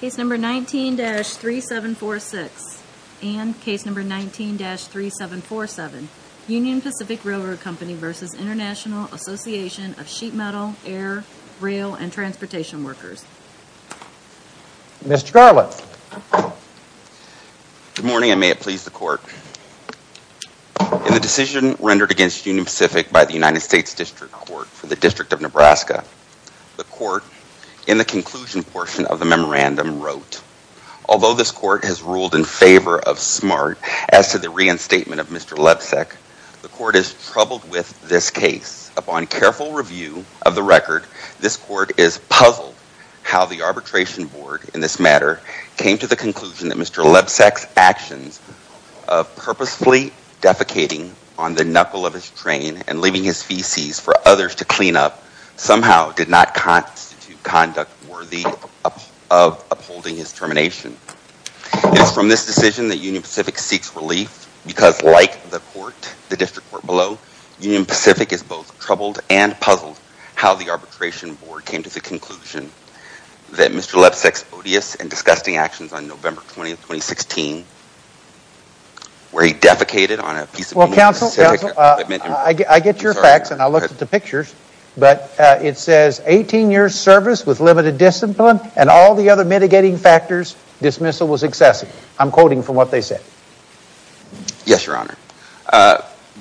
Case No. 19-3746 and Case No. 19-3747 Union Pacific Railroad Company v. Intl. Assn. of Sheet Metal, Air, Rail, and Transportation Workers Mr. Garland Good morning and may it please the court In the decision rendered against Union Pacific by the United States District Court for the District of Nebraska The court, in the conclusion portion of the memorandum, wrote Although this court has ruled in favor of SMART as to the reinstatement of Mr. Lebsack, the court is troubled with this case Upon careful review of the record, this court is puzzled how the arbitration board, in this matter, came to the conclusion that Mr. Lebsack's actions of purposefully defecating on the knuckle of his train and leaving his feces for others to clean up, somehow did not constitute conduct worthy of upholding his termination It is from this decision that Union Pacific seeks relief because, like the district court below, Union Pacific is both troubled and puzzled how the arbitration board came to the conclusion that Mr. Lebsack's odious and disgusting actions on November 20th, 2016, where he defecated on a piece of Union Pacific I get your facts and I looked at the pictures, but it says 18 years service with limited discipline and all the other mitigating factors, dismissal was excessive. I'm quoting from what they said Yes, your honor.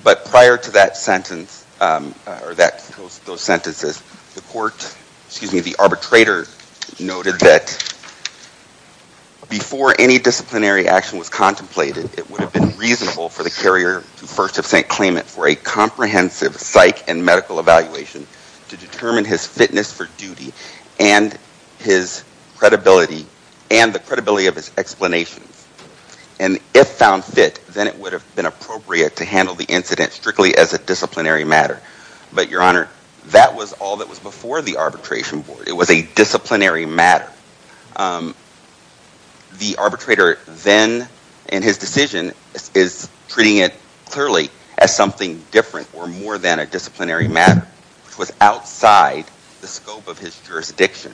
But prior to that sentence, or those sentences, the arbitrator noted that Before any disciplinary action was contemplated, it would have been reasonable for the carrier to first have sent claimant for a comprehensive psych and medical evaluation to determine his fitness for duty and the credibility of his explanations And if found fit, then it would have been appropriate to handle the incident strictly as a disciplinary matter But your honor, that was all that was before the arbitration board. It was a disciplinary matter The arbitrator then, in his decision, is treating it clearly as something different or more than a disciplinary matter which was outside the scope of his jurisdiction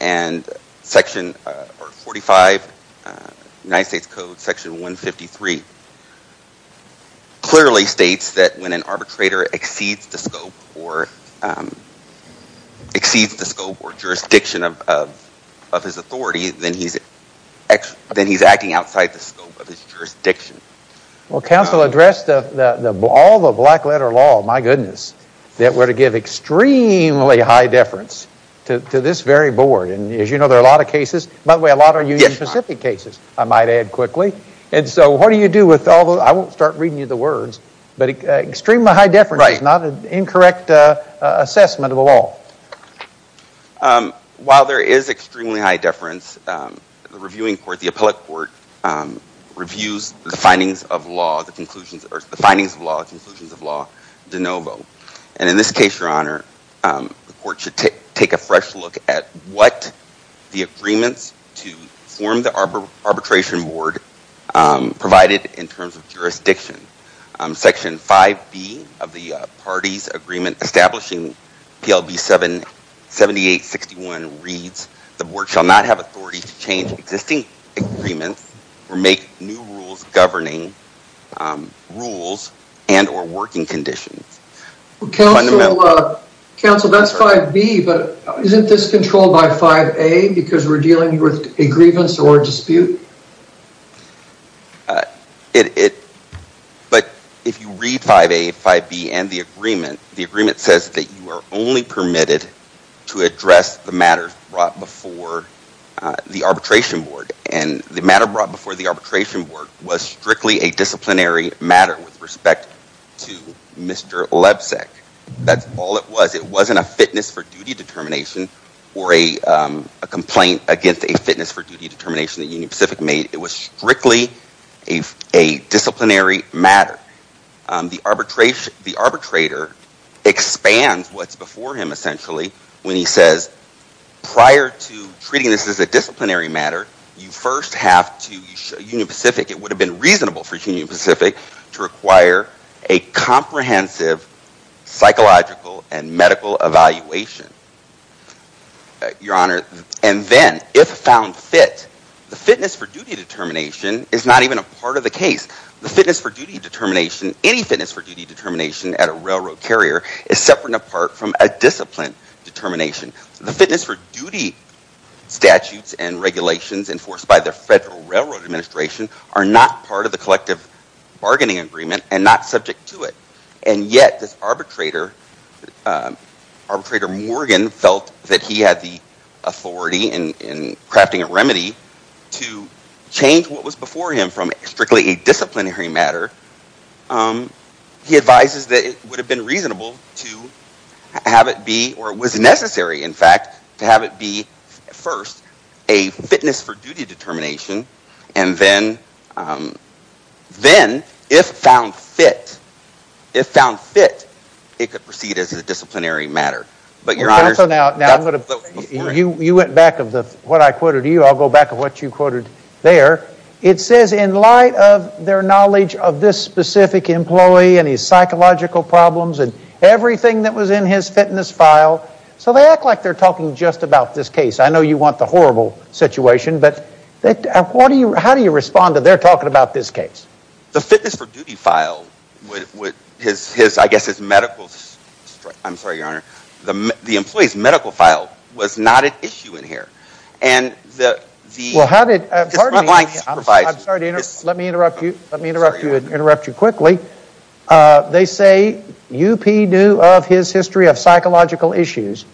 And section 45 of the United States Code, section 153, clearly states that when an arbitrator exceeds the scope or jurisdiction of his authority, then he's acting outside the scope of his jurisdiction Well, counsel addressed all the black letter law, my goodness, that were to give extremely high deference to this very board And as you know, there are a lot of cases, by the way, a lot are Union Pacific cases, I might add quickly And so what do you do with all those, I won't start reading you the words, but extremely high deference is not an incorrect assessment of the law While there is extremely high deference, the reviewing court, the appellate court, reviews the findings of law, the conclusions of law, the conclusions of law de novo And in this case, your honor, the court should take a fresh look at what the agreements to form the arbitration board provided in terms of jurisdiction Section 5B of the parties agreement establishing PLB 7861 reads, the board shall not have authority to change existing agreements or make new rules governing rules and or working conditions Counsel, that's 5B, but isn't this controlled by 5A because we're dealing with a grievance or a dispute? It, but if you read 5A, 5B and the agreement, the agreement says that you are only permitted to address the matters brought before the arbitration board And the matter brought before the arbitration board was strictly a disciplinary matter with respect to Mr. Lebsack That's all it was. It wasn't a fitness for duty determination or a complaint against a fitness for duty determination that Union Pacific made It was strictly a disciplinary matter. The arbitrator expands what's before him essentially when he says, prior to treating this as a disciplinary matter You first have to, Union Pacific, it would have been reasonable for Union Pacific to require a comprehensive psychological and medical evaluation Your honor, and then if found fit, the fitness for duty determination is not even a part of the case The fitness for duty determination, any fitness for duty determination at a railroad carrier is separate and apart from a discipline determination The fitness for duty statutes and regulations enforced by the Federal Railroad Administration are not part of the collective bargaining agreement and not subject to it And yet this arbitrator, arbitrator Morgan felt that he had the authority in crafting a remedy to change what was before him from strictly a disciplinary matter He advises that it would have been reasonable to have it be, or was necessary in fact, to have it be first a fitness for duty determination And then if found fit, it could proceed as a disciplinary matter You went back of what I quoted you, I'll go back of what you quoted there It says in light of their knowledge of this specific employee and his psychological problems and everything that was in his fitness file So they act like they're talking just about this case. I know you want the horrible situation but how do you respond to their talking about this case? The fitness for duty file, I guess his medical, I'm sorry your honor, the employee's medical file was not an issue in here Well how did, pardon me, I'm sorry to interrupt you, let me interrupt you quickly They say UP knew of his history of psychological issues,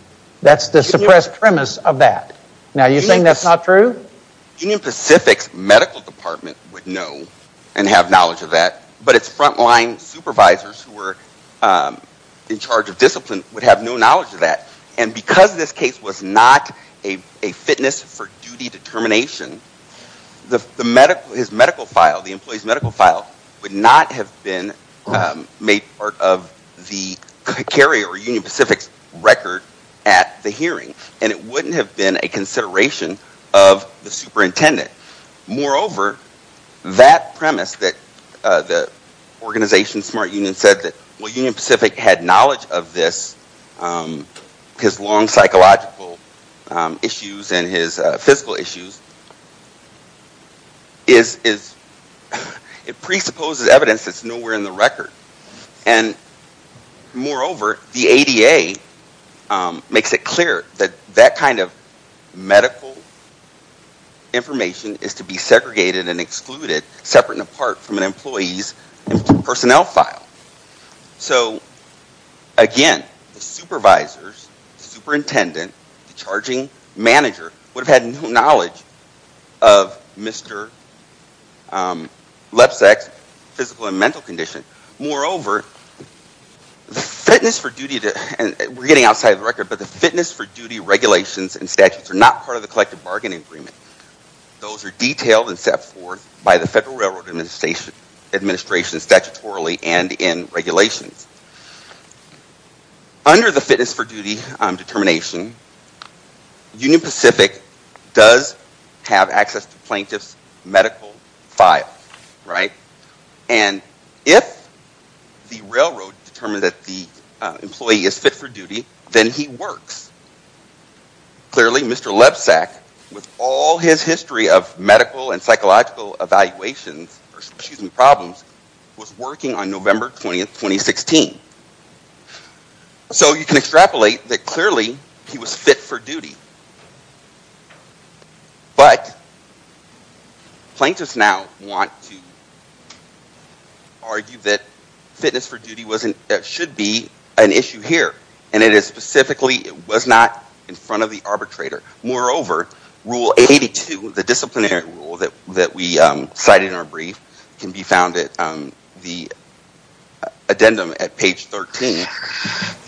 that's the suppressed premise of that Now you're saying that's not true? Union Pacific's medical department would know and have knowledge of that But it's front line supervisors who were in charge of discipline would have no knowledge of that And because this case was not a fitness for duty determination His medical file, the employee's medical file would not have been made part of the carrier or Union Pacific's record at the hearing And it wouldn't have been a consideration of the superintendent Moreover, that premise that the organization Smart Union said that Union Pacific had knowledge of this His long psychological issues and his physical issues It presupposes evidence that's nowhere in the record And moreover, the ADA makes it clear that that kind of medical information is to be segregated and excluded Separate and apart from an employee's personnel file So again, the supervisors, the superintendent, the charging manager would have had no knowledge of Mr. Lebsack's physical and mental condition Moreover, the fitness for duty regulations and statutes are not part of the collective bargaining agreement Those are detailed and set forth by the Federal Railroad Administration statutorily and in regulations Under the fitness for duty determination, Union Pacific does have access to plaintiff's medical file And if the railroad determines that the employee is fit for duty, then he works Clearly, Mr. Lebsack, with all his history of medical and psychological problems, was working on November 20, 2016 So you can extrapolate that clearly he was fit for duty But, plaintiffs now want to argue that fitness for duty should be an issue here And it is specifically, it was not in front of the arbitrator Moreover, rule 82, the disciplinary rule that we cited in our brief can be found at the addendum at page 13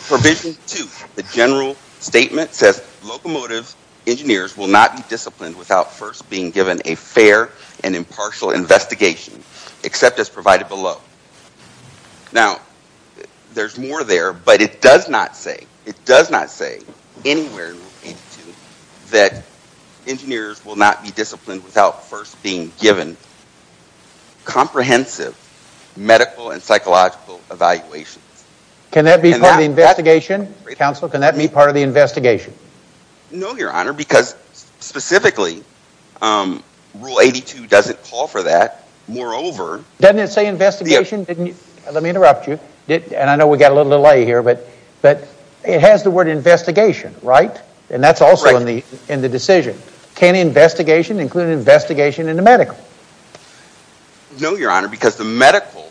Provision 2, the general statement says locomotive engineers will not be disciplined without first being given a fair and impartial investigation Except as provided below Now, there's more there, but it does not say, it does not say anywhere in rule 82 That engineers will not be disciplined without first being given comprehensive medical and psychological evaluations Can that be part of the investigation, counsel? Can that be part of the investigation? No, your honor, because specifically, rule 82 doesn't call for that Moreover, doesn't it say investigation? Let me interrupt you, and I know we got a little delay here But it has the word investigation, right? And that's also in the decision Can investigation include investigation in the medical? No, your honor, because the medical,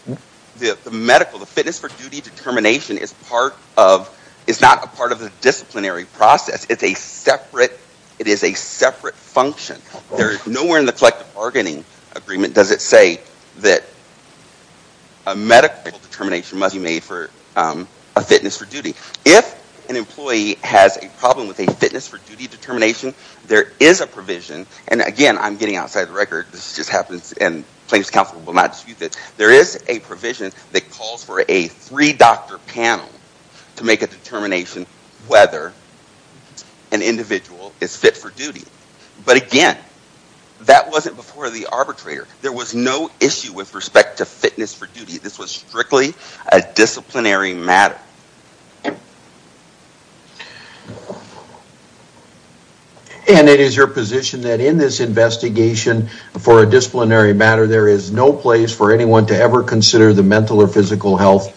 the fitness for duty determination is not a part of the disciplinary process It is a separate function Nowhere in the collective bargaining agreement does it say that a medical determination must be made for a fitness for duty If an employee has a problem with a fitness for duty determination, there is a provision And again, I'm getting outside the record, this just happens, and plaintiff's counsel will not dispute this There is a provision that calls for a three doctor panel to make a determination whether an individual is fit for duty But again, that wasn't before the arbitrator. There was no issue with respect to fitness for duty This was strictly a disciplinary matter Okay And it is your position that in this investigation for a disciplinary matter There is no place for anyone to ever consider the mental or physical health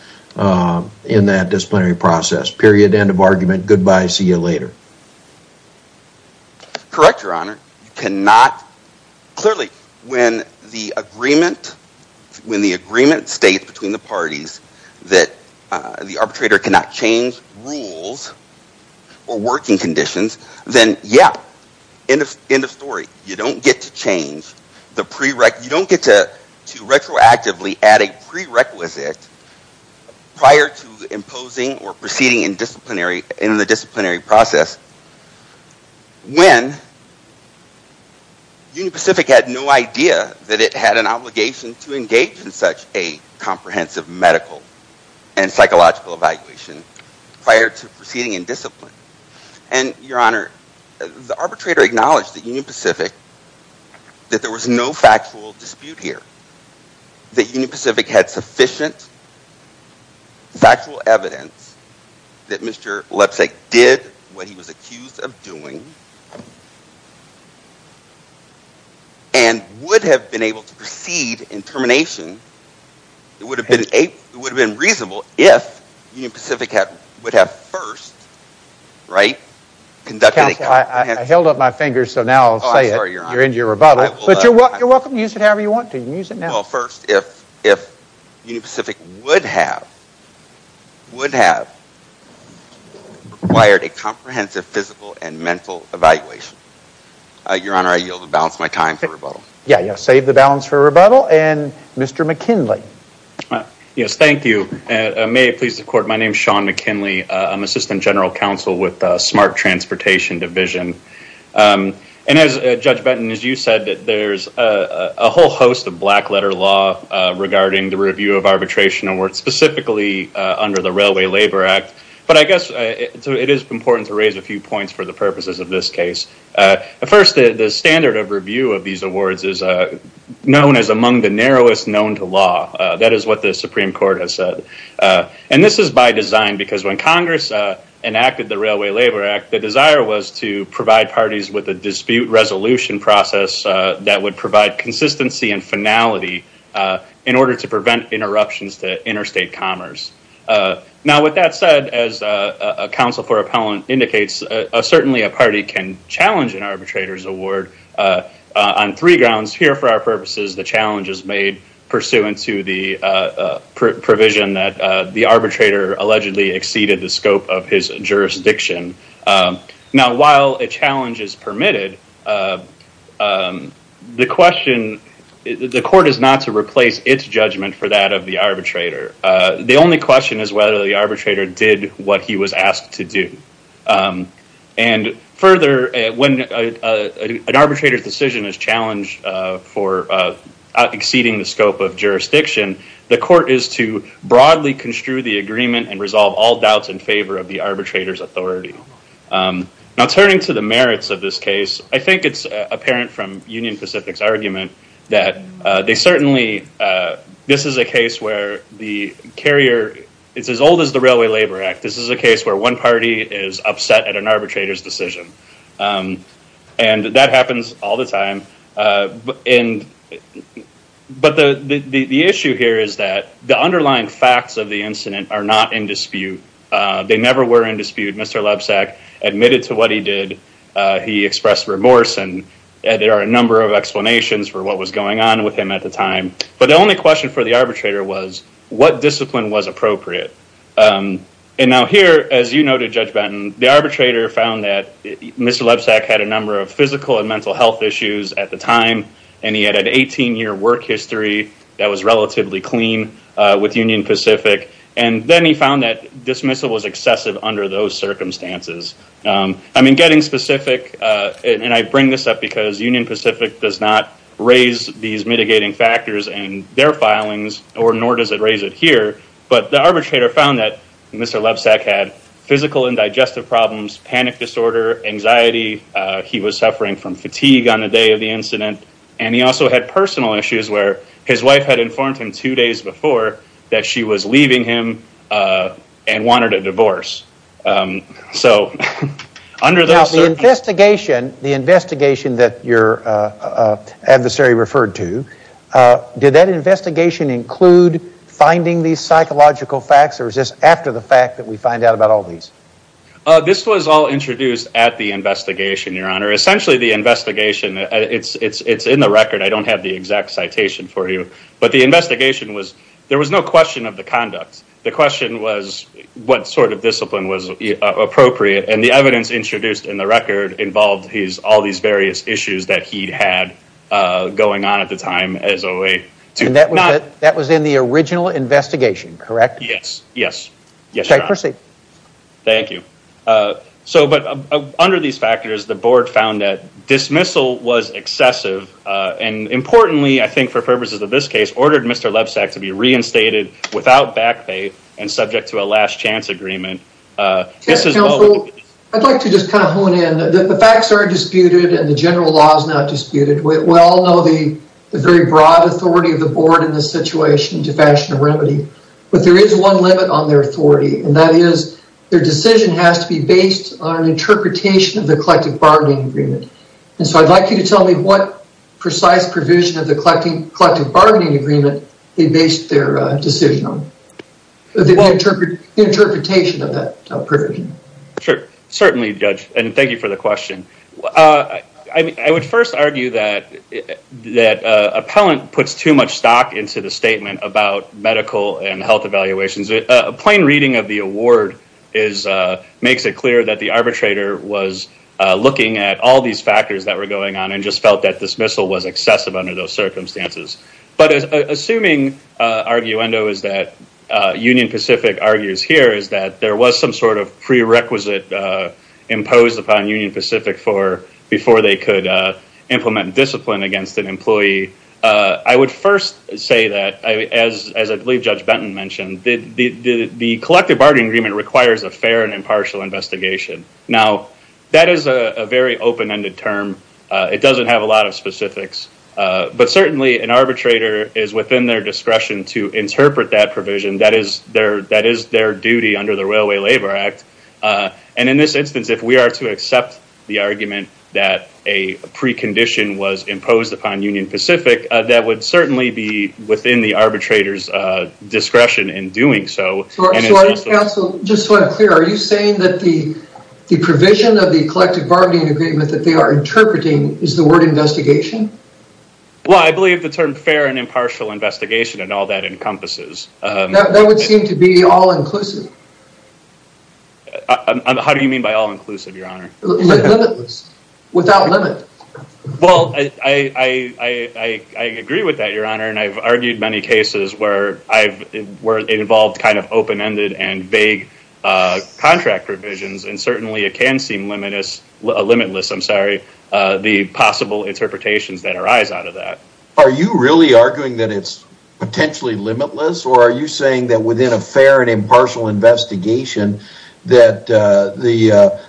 in that disciplinary process Period, end of argument, goodbye, see you later Correct, your honor, you cannot Clearly, when the agreement states between the parties that the arbitrator cannot change rules Or working conditions, then yeah, end of story, you don't get to change You don't get to retroactively add a prerequisite prior to imposing or proceeding in the disciplinary process When Union Pacific had no idea that it had an obligation to engage in such a comprehensive medical and psychological evaluation Prior to proceeding in discipline And your honor, the arbitrator acknowledged that Union Pacific, that there was no factual dispute here That Union Pacific had sufficient factual evidence that Mr. Lepsak did what he was accused of doing And would have been able to proceed in termination It would have been reasonable if Union Pacific would have first, right, conducted a comprehensive Counsel, I held up my fingers so now I'll say it, you're in your rebuttal But you're welcome to use it however you want to, you can use it now Well first, if Union Pacific would have required a comprehensive physical and mental evaluation Your honor, I yield the balance of my time for rebuttal Yeah, save the balance for rebuttal, and Mr. McKinley Yes, thank you, may it please the court, my name is Sean McKinley, I'm assistant general counsel with the smart transportation division And as Judge Benton, as you said, there's a whole host of black letter law regarding the review of arbitration awards Specifically under the Railway Labor Act But I guess it is important to raise a few points for the purposes of this case First, the standard of review of these awards is known as among the narrowest known to law That is what the Supreme Court has said And this is by design because when Congress enacted the Railway Labor Act The desire was to provide parties with a dispute resolution process That would provide consistency and finality In order to prevent interruptions to interstate commerce Now with that said, as counsel for appellant indicates Certainly a party can challenge an arbitrator's award On three grounds, here for our purposes the challenge is made Pursuant to the provision that the arbitrator allegedly exceeded the scope of his jurisdiction Now while a challenge is permitted The question, the court is not to replace its judgment for that of the arbitrator The only question is whether the arbitrator did what he was asked to do And further, when an arbitrator's decision is challenged for exceeding the scope of jurisdiction The court is to broadly construe the agreement and resolve all doubts in favor of the arbitrator's authority Now turning to the merits of this case I think it's apparent from Union Pacific's argument That they certainly, this is a case where the carrier It's as old as the Railway Labor Act This is a case where one party is upset at an arbitrator's decision And that happens all the time But the issue here is that the underlying facts of the incident are not in dispute They never were in dispute, Mr. Lebsack admitted to what he did He expressed remorse and there are a number of explanations for what was going on with him at the time But the only question for the arbitrator was what discipline was appropriate And now here, as you noted Judge Benton The arbitrator found that Mr. Lebsack had a number of physical and mental health issues at the time And he had an 18 year work history that was relatively clean with Union Pacific And then he found that dismissal was excessive under those circumstances I mean getting specific, and I bring this up because Union Pacific does not raise these mitigating factors in their filings Nor does it raise it here But the arbitrator found that Mr. Lebsack had physical and digestive problems Panic disorder, anxiety, he was suffering from fatigue on the day of the incident And he also had personal issues where his wife had informed him two days before That she was leaving him and wanted a divorce Now the investigation that your adversary referred to Did that investigation include finding these psychological facts or is this after the fact that we find out about all these? This was all introduced at the investigation, your honor Essentially the investigation, it's in the record, I don't have the exact citation for you But the investigation was, there was no question of the conduct The question was what sort of discipline was appropriate And the evidence introduced in the record involved all these various issues that he had going on at the time And that was in the original investigation, correct? Yes, yes Thank you So under these factors the board found that dismissal was excessive And importantly, I think for purposes of this case, ordered Mr. Lebsack to be reinstated without backbite And subject to a last chance agreement Counsel, I'd like to just kind of hone in The facts are disputed and the general law is not disputed We all know the very broad authority of the board in this situation to fashion a remedy But there is one limit on their authority And that is their decision has to be based on an interpretation of the collective bargaining agreement And so I'd like you to tell me what precise provision of the collective bargaining agreement they based their decision on The interpretation of that provision Sure, certainly judge, and thank you for the question I would first argue that That appellant puts too much stock into the statement about medical and health evaluations A plain reading of the award Makes it clear that the arbitrator was looking at all these factors that were going on And just felt that dismissal was excessive under those circumstances But assuming, arguendo is that Union Pacific argues here is that There was some sort of prerequisite imposed upon Union Pacific Before they could implement discipline against an employee I would first say that As I believe Judge Benton mentioned The collective bargaining agreement requires a fair and impartial investigation Now, that is a very open-ended term It doesn't have a lot of specifics But certainly an arbitrator is within their discretion to interpret that provision That is their duty under the Railway Labor Act And in this instance if we are to accept the argument That a precondition was imposed upon Union Pacific That would certainly be within the arbitrator's discretion in doing so So I ask counsel, just so I'm clear Are you saying that the provision of the collective bargaining agreement That they are interpreting is the word investigation? Well, I believe the term fair and impartial investigation and all that encompasses That would seem to be all-inclusive How do you mean by all-inclusive, your honor? Limitless, without limit Well, I agree with that, your honor And I've argued many cases where it involves Kind of open-ended and vague contract revisions And certainly it can seem limitless The possible interpretations that arise out of that Are you really arguing that it's potentially limitless? Or are you saying that within a fair and impartial investigation That the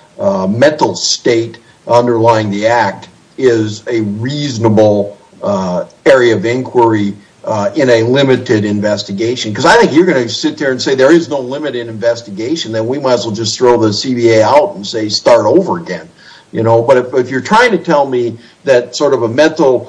mental state underlying the act Is a reasonable area of inquiry In a limited investigation? Because I think you're going to sit there and say There is no limited investigation Then we might as well just throw the CBA out And say start over again But if you're trying to tell me That sort of a mental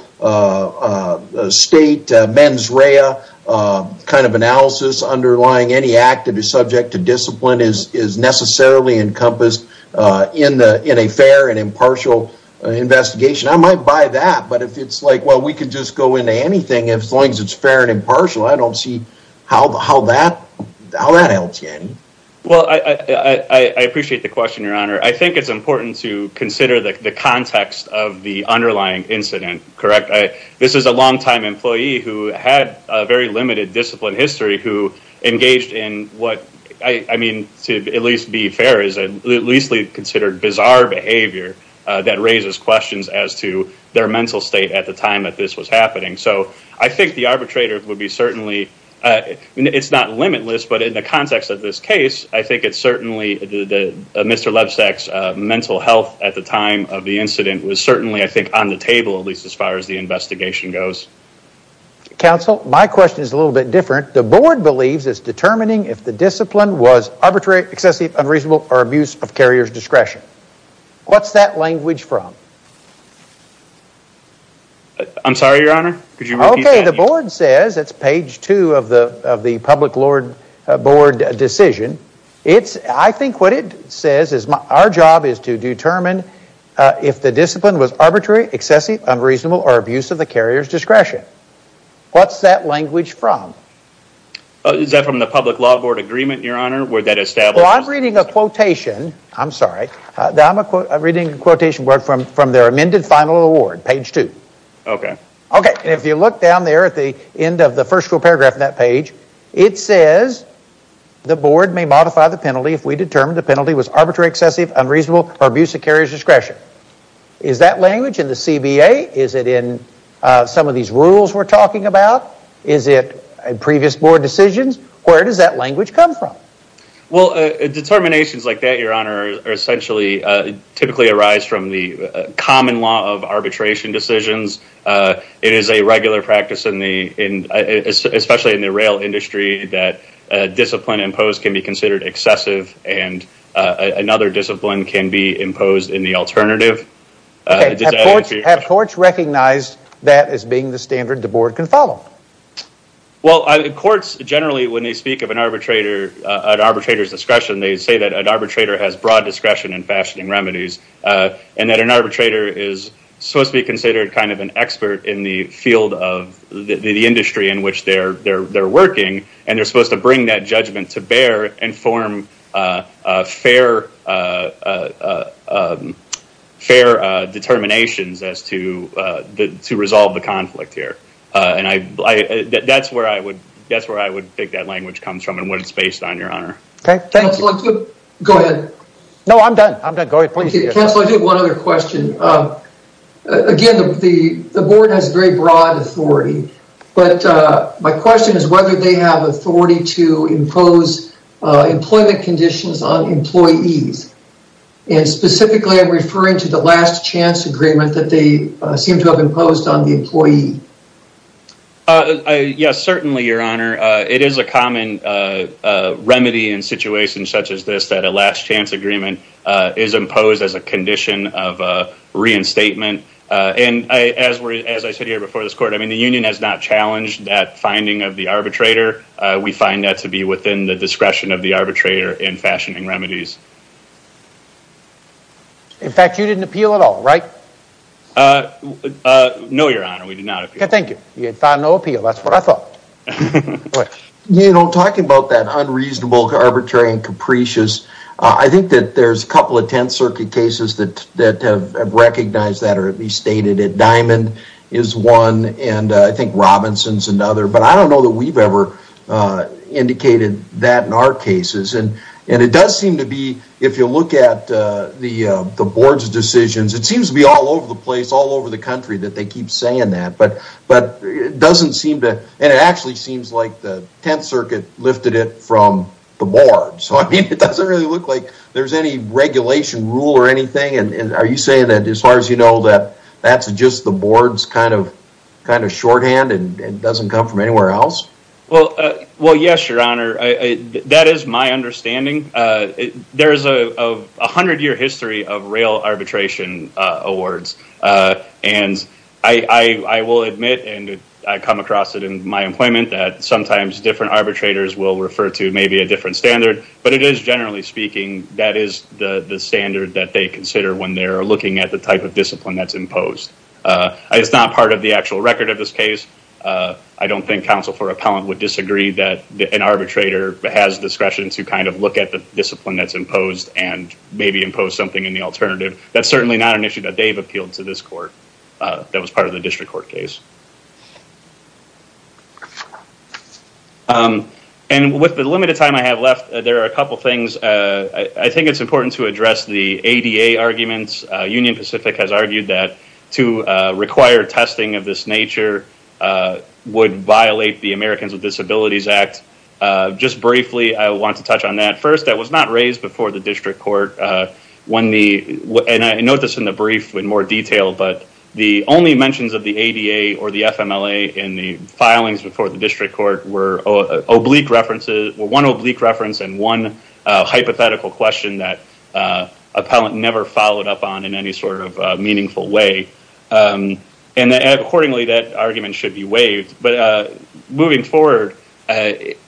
state, mens rea Kind of analysis underlying any act That is subject to discipline Is necessarily encompassed In a fair and impartial investigation I might buy that But if it's like we can just go into anything As long as it's fair and impartial I don't see how that helps you Well, I appreciate the question, your honor I think it's important to consider the context Of the underlying incident, correct? This is a long-time employee Who had a very limited discipline history Who engaged in what I mean, to at least be fair Is a leastly considered bizarre behavior That raises questions as to Their mental state at the time That this was happening So I think the arbitrator would be certainly It's not limitless But in the context of this case I think it's certainly Mr. Lebsack's mental health At the time of the incident Was certainly, I think, on the table At least as far as the investigation goes Counsel, my question is a little bit different The board believes it's determining If the discipline was Arbitrary, excessive, unreasonable Or abuse of carrier's discretion What's that language from? I'm sorry, your honor Could you repeat that? Okay, the board says It's page two of the public board decision I think what it says Is our job is to determine If the discipline was Arbitrary, excessive, unreasonable Or abuse of the carrier's discretion What's that language from? Is that from the public law board agreement, your honor? Where that establishes Well, I'm reading a quotation I'm sorry, I'm reading a quotation From their amended final award, page two Okay Okay, if you look down there At the end of the first paragraph of that page The board may modify the penalty If we determine the penalty was Arbitrary, excessive, unreasonable Or abuse of carrier's discretion Is that language in the CBA? Is it in some of these rules we're talking about? Is it in previous board decisions? Where does that language come from? Well, determinations like that, your honor Are essentially Typically arise from the Common law of arbitration decisions It is a regular practice Especially in the rail industry That discipline imposed Can be considered excessive And another discipline Can be imposed in the alternative Okay, have courts ruled Have courts recognized That as being the standard the board can follow? Well, courts generally When they speak of an arbitrator An arbitrator's discretion They say that an arbitrator Has broad discretion in fashioning remedies And that an arbitrator Is supposed to be considered Kind of an expert in the field of The industry in which they're working And they're supposed to bring that judgment To bear and form Fair Determinations as to To resolve the conflict here And that's where I would That's where I would think that language Comes from and what it's based on, your honor Okay, thank you Go ahead No, I'm done, I'm done, go ahead, please Counselor, I do have one other question Again, the board has very broad authority But my question is Whether they have authority To impose Employment conditions on employees And specifically I'm referring to The last chance agreement That they seem to have imposed On the employee Yes, certainly, your honor It is a common Remedy in situations such as this That a last chance agreement Is imposed as a condition Of reinstatement And as I said here before this court I mean, the union has not challenged That finding of the arbitrator We find that to be within The discretion of the arbitrator In fact, you didn't appeal at all Right? No, your honor, we did not appeal Okay, thank you You found no appeal, that's what I thought You know, talking about that Unreasonable, arbitrary and capricious I think that there's a couple Of Tenth Circuit cases That have recognized that Or at least stated it Diamond is one And I think Robinson's another But I don't know that we've ever Indicated that in our cases I mean, if you look at The board's decisions It seems to be all over the place All over the country That they keep saying that But it doesn't seem to And it actually seems like The Tenth Circuit lifted it From the board So I mean, it doesn't really look Like there's any regulation rule Or anything And are you saying that As far as you know That that's just the board's A hundred year history Of real arbitration awards And I will admit And I come across it In my employment That sometimes different arbitrators Will refer to maybe a different standard But it is, generally speaking That is the standard That they consider when they're looking At the type of discipline that's imposed It's not part of the actual record Of this case I don't think counsel for appellant Would disagree that an arbitrator Couldn't maybe impose something In the alternative That's certainly not an issue That they've appealed to this court That was part of the district court case And with the limited time I have left There are a couple things I think it's important to address The ADA arguments Union Pacific has argued that To require testing of this nature Would violate the Americans with Disabilities Act Just briefly, I want to touch on that First, that was not raised Before the district court And I note this in the brief In more detail But the only mentions of the ADA Or the FMLA in the filings Before the district court Were one oblique reference And one hypothetical question That appellant never followed up on In any sort of meaningful way And accordingly That argument should be waived But moving forward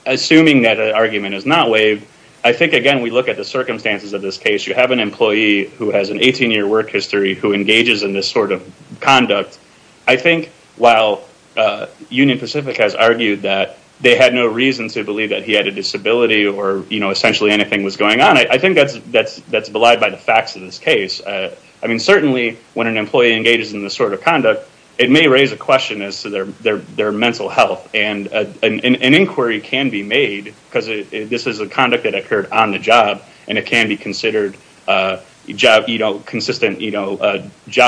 Assuming that argument Is not waived If you have an employee Who has an 18-year work history Who engages in this sort of conduct I think while Union Pacific has argued That they had no reason To believe he had a disability Or essentially anything was going on I think that's belied By the facts of this case Certainly when an employee Engages in this sort of conduct It may raise a question As to their mental health And an inquiry can be made For a job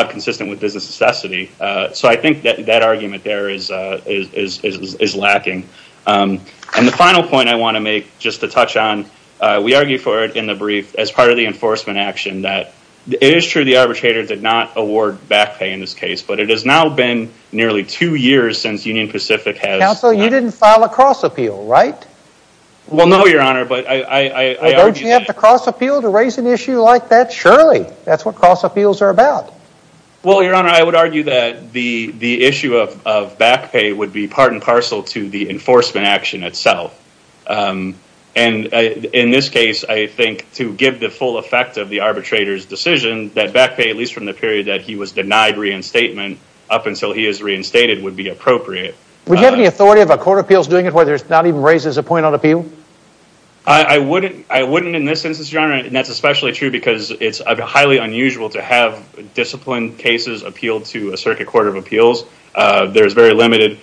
consistent With business necessity So I think that argument There is lacking And the final point I want to make Just to touch on We argue for it in the brief As part of the enforcement action It is true the arbitrator Did not award back pay In this case But it has now been Nearly two years Since Union Pacific has And if you like that surely That's what cross appeals are about Well your honor I would argue That the issue of back pay Would be part and parcel To the enforcement action itself And in this case I think to give the full effect Of the arbitrator's decision That back pay at least From the period that he was Denied reinstatement Up until he is reinstated Would be appropriate I wouldn't in this instance I would argue That back pay Would be part and parcel To the enforcement action itself And in this case That back pay at least Denied reinstatement Would be appropriate I would argue That back pay at least From the period that he was Denied reinstatement Thank you your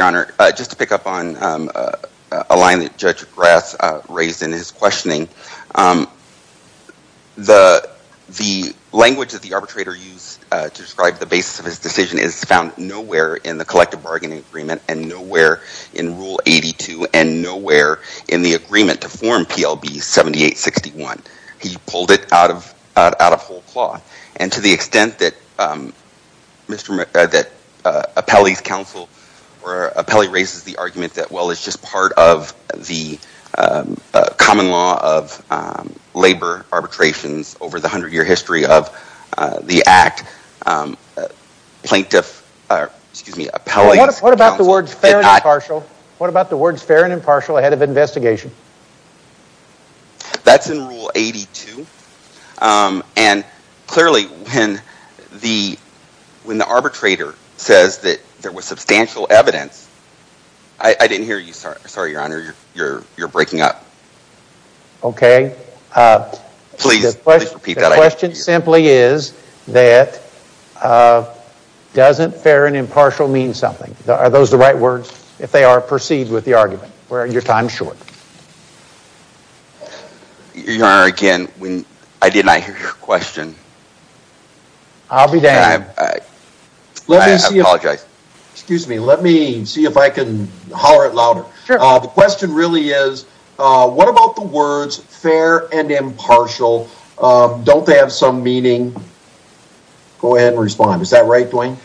honor Just to pick up on A line that judge grass Raised in his questioning The language that the Arbitrator used To describe the basis of his Decision is found nowhere In the collective bargaining Agreement and nowhere In rule 82 And nowhere in the agreement Appellate raises the argument That well it's just part of The common law of Labor arbitrations Over the hundred year history of The act Plaintiff Excuse me appellate What about the words fair and impartial Ahead of investigation That's in rule 82 And clearly When the When the arbitrator Says that there was substantial Evidence I didn't hear you sorry your honor You're breaking up Okay The question simply is That Doesn't fair and impartial mean Something are those the right words If they are perceived with the argument Or are your time short Your honor again I did not hear your question I'll be damned I apologize Excuse me let me see if I can Holler it louder The question really is What about the words fair and Impartial Don't they have some meaning Go ahead and respond is that right Dwayne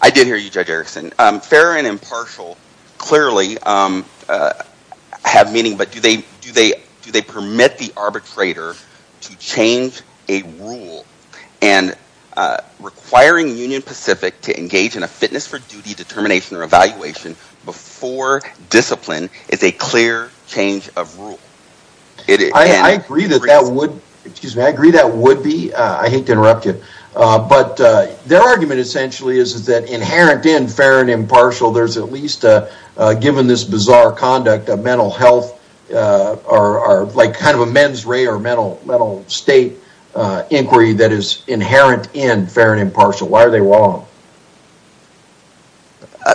I did hear you judge Erickson Fair and impartial Clearly Have meaning but do they Permit the arbitrator To change a rule Requiring Union Pacific To engage in a fitness for duty Determination or evaluation Before discipline Is a clear change of rule I agree that that would Excuse me I agree that would be I hate to interrupt you But their argument essentially Is that inherent in fair and Impartial there's at least Given this bizarre conduct Of mental health Or like kind of a men's Rhea or mental state Inquiry that is inherent In fair and impartial Why are they wrong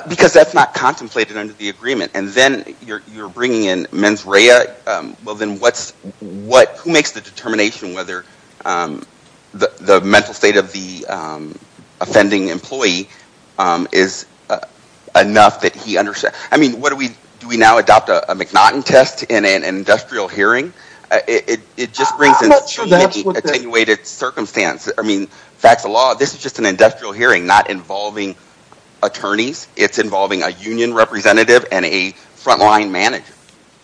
Because that's not contemplated Under the agreement and then You're bringing in men's Rhea well then what's Who makes the determination Whether the mental state of The offending employee Is enough that he Understands I mean what do we Do we now adopt a McNaughton test In an industrial hearing It just brings in Attenuated circumstance I mean facts of law this is Just an industrial hearing Not involving attorneys It's involving a union Representative and a Frontline manager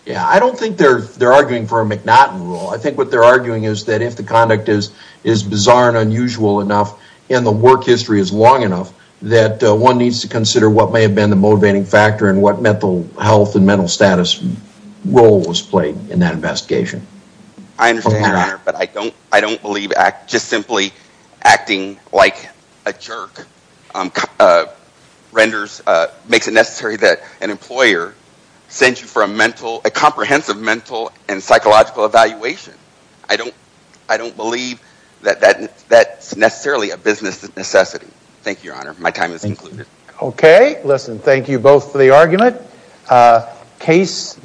Yeah I don't think they're Arguing for a McNaughton rule I think what they're arguing Is that if the conduct Is bizarre and unusual enough And the work history is long Enough that one needs to I understand your honor but I don't believe just simply Acting like a jerk Renders makes it necessary That an employer Sends you for a mental A comprehensive mental and Psychological evaluation I don't believe that That's necessarily a business Necessity thank you your honor My time is concluded Okay listen thank you both For the argument case Thank you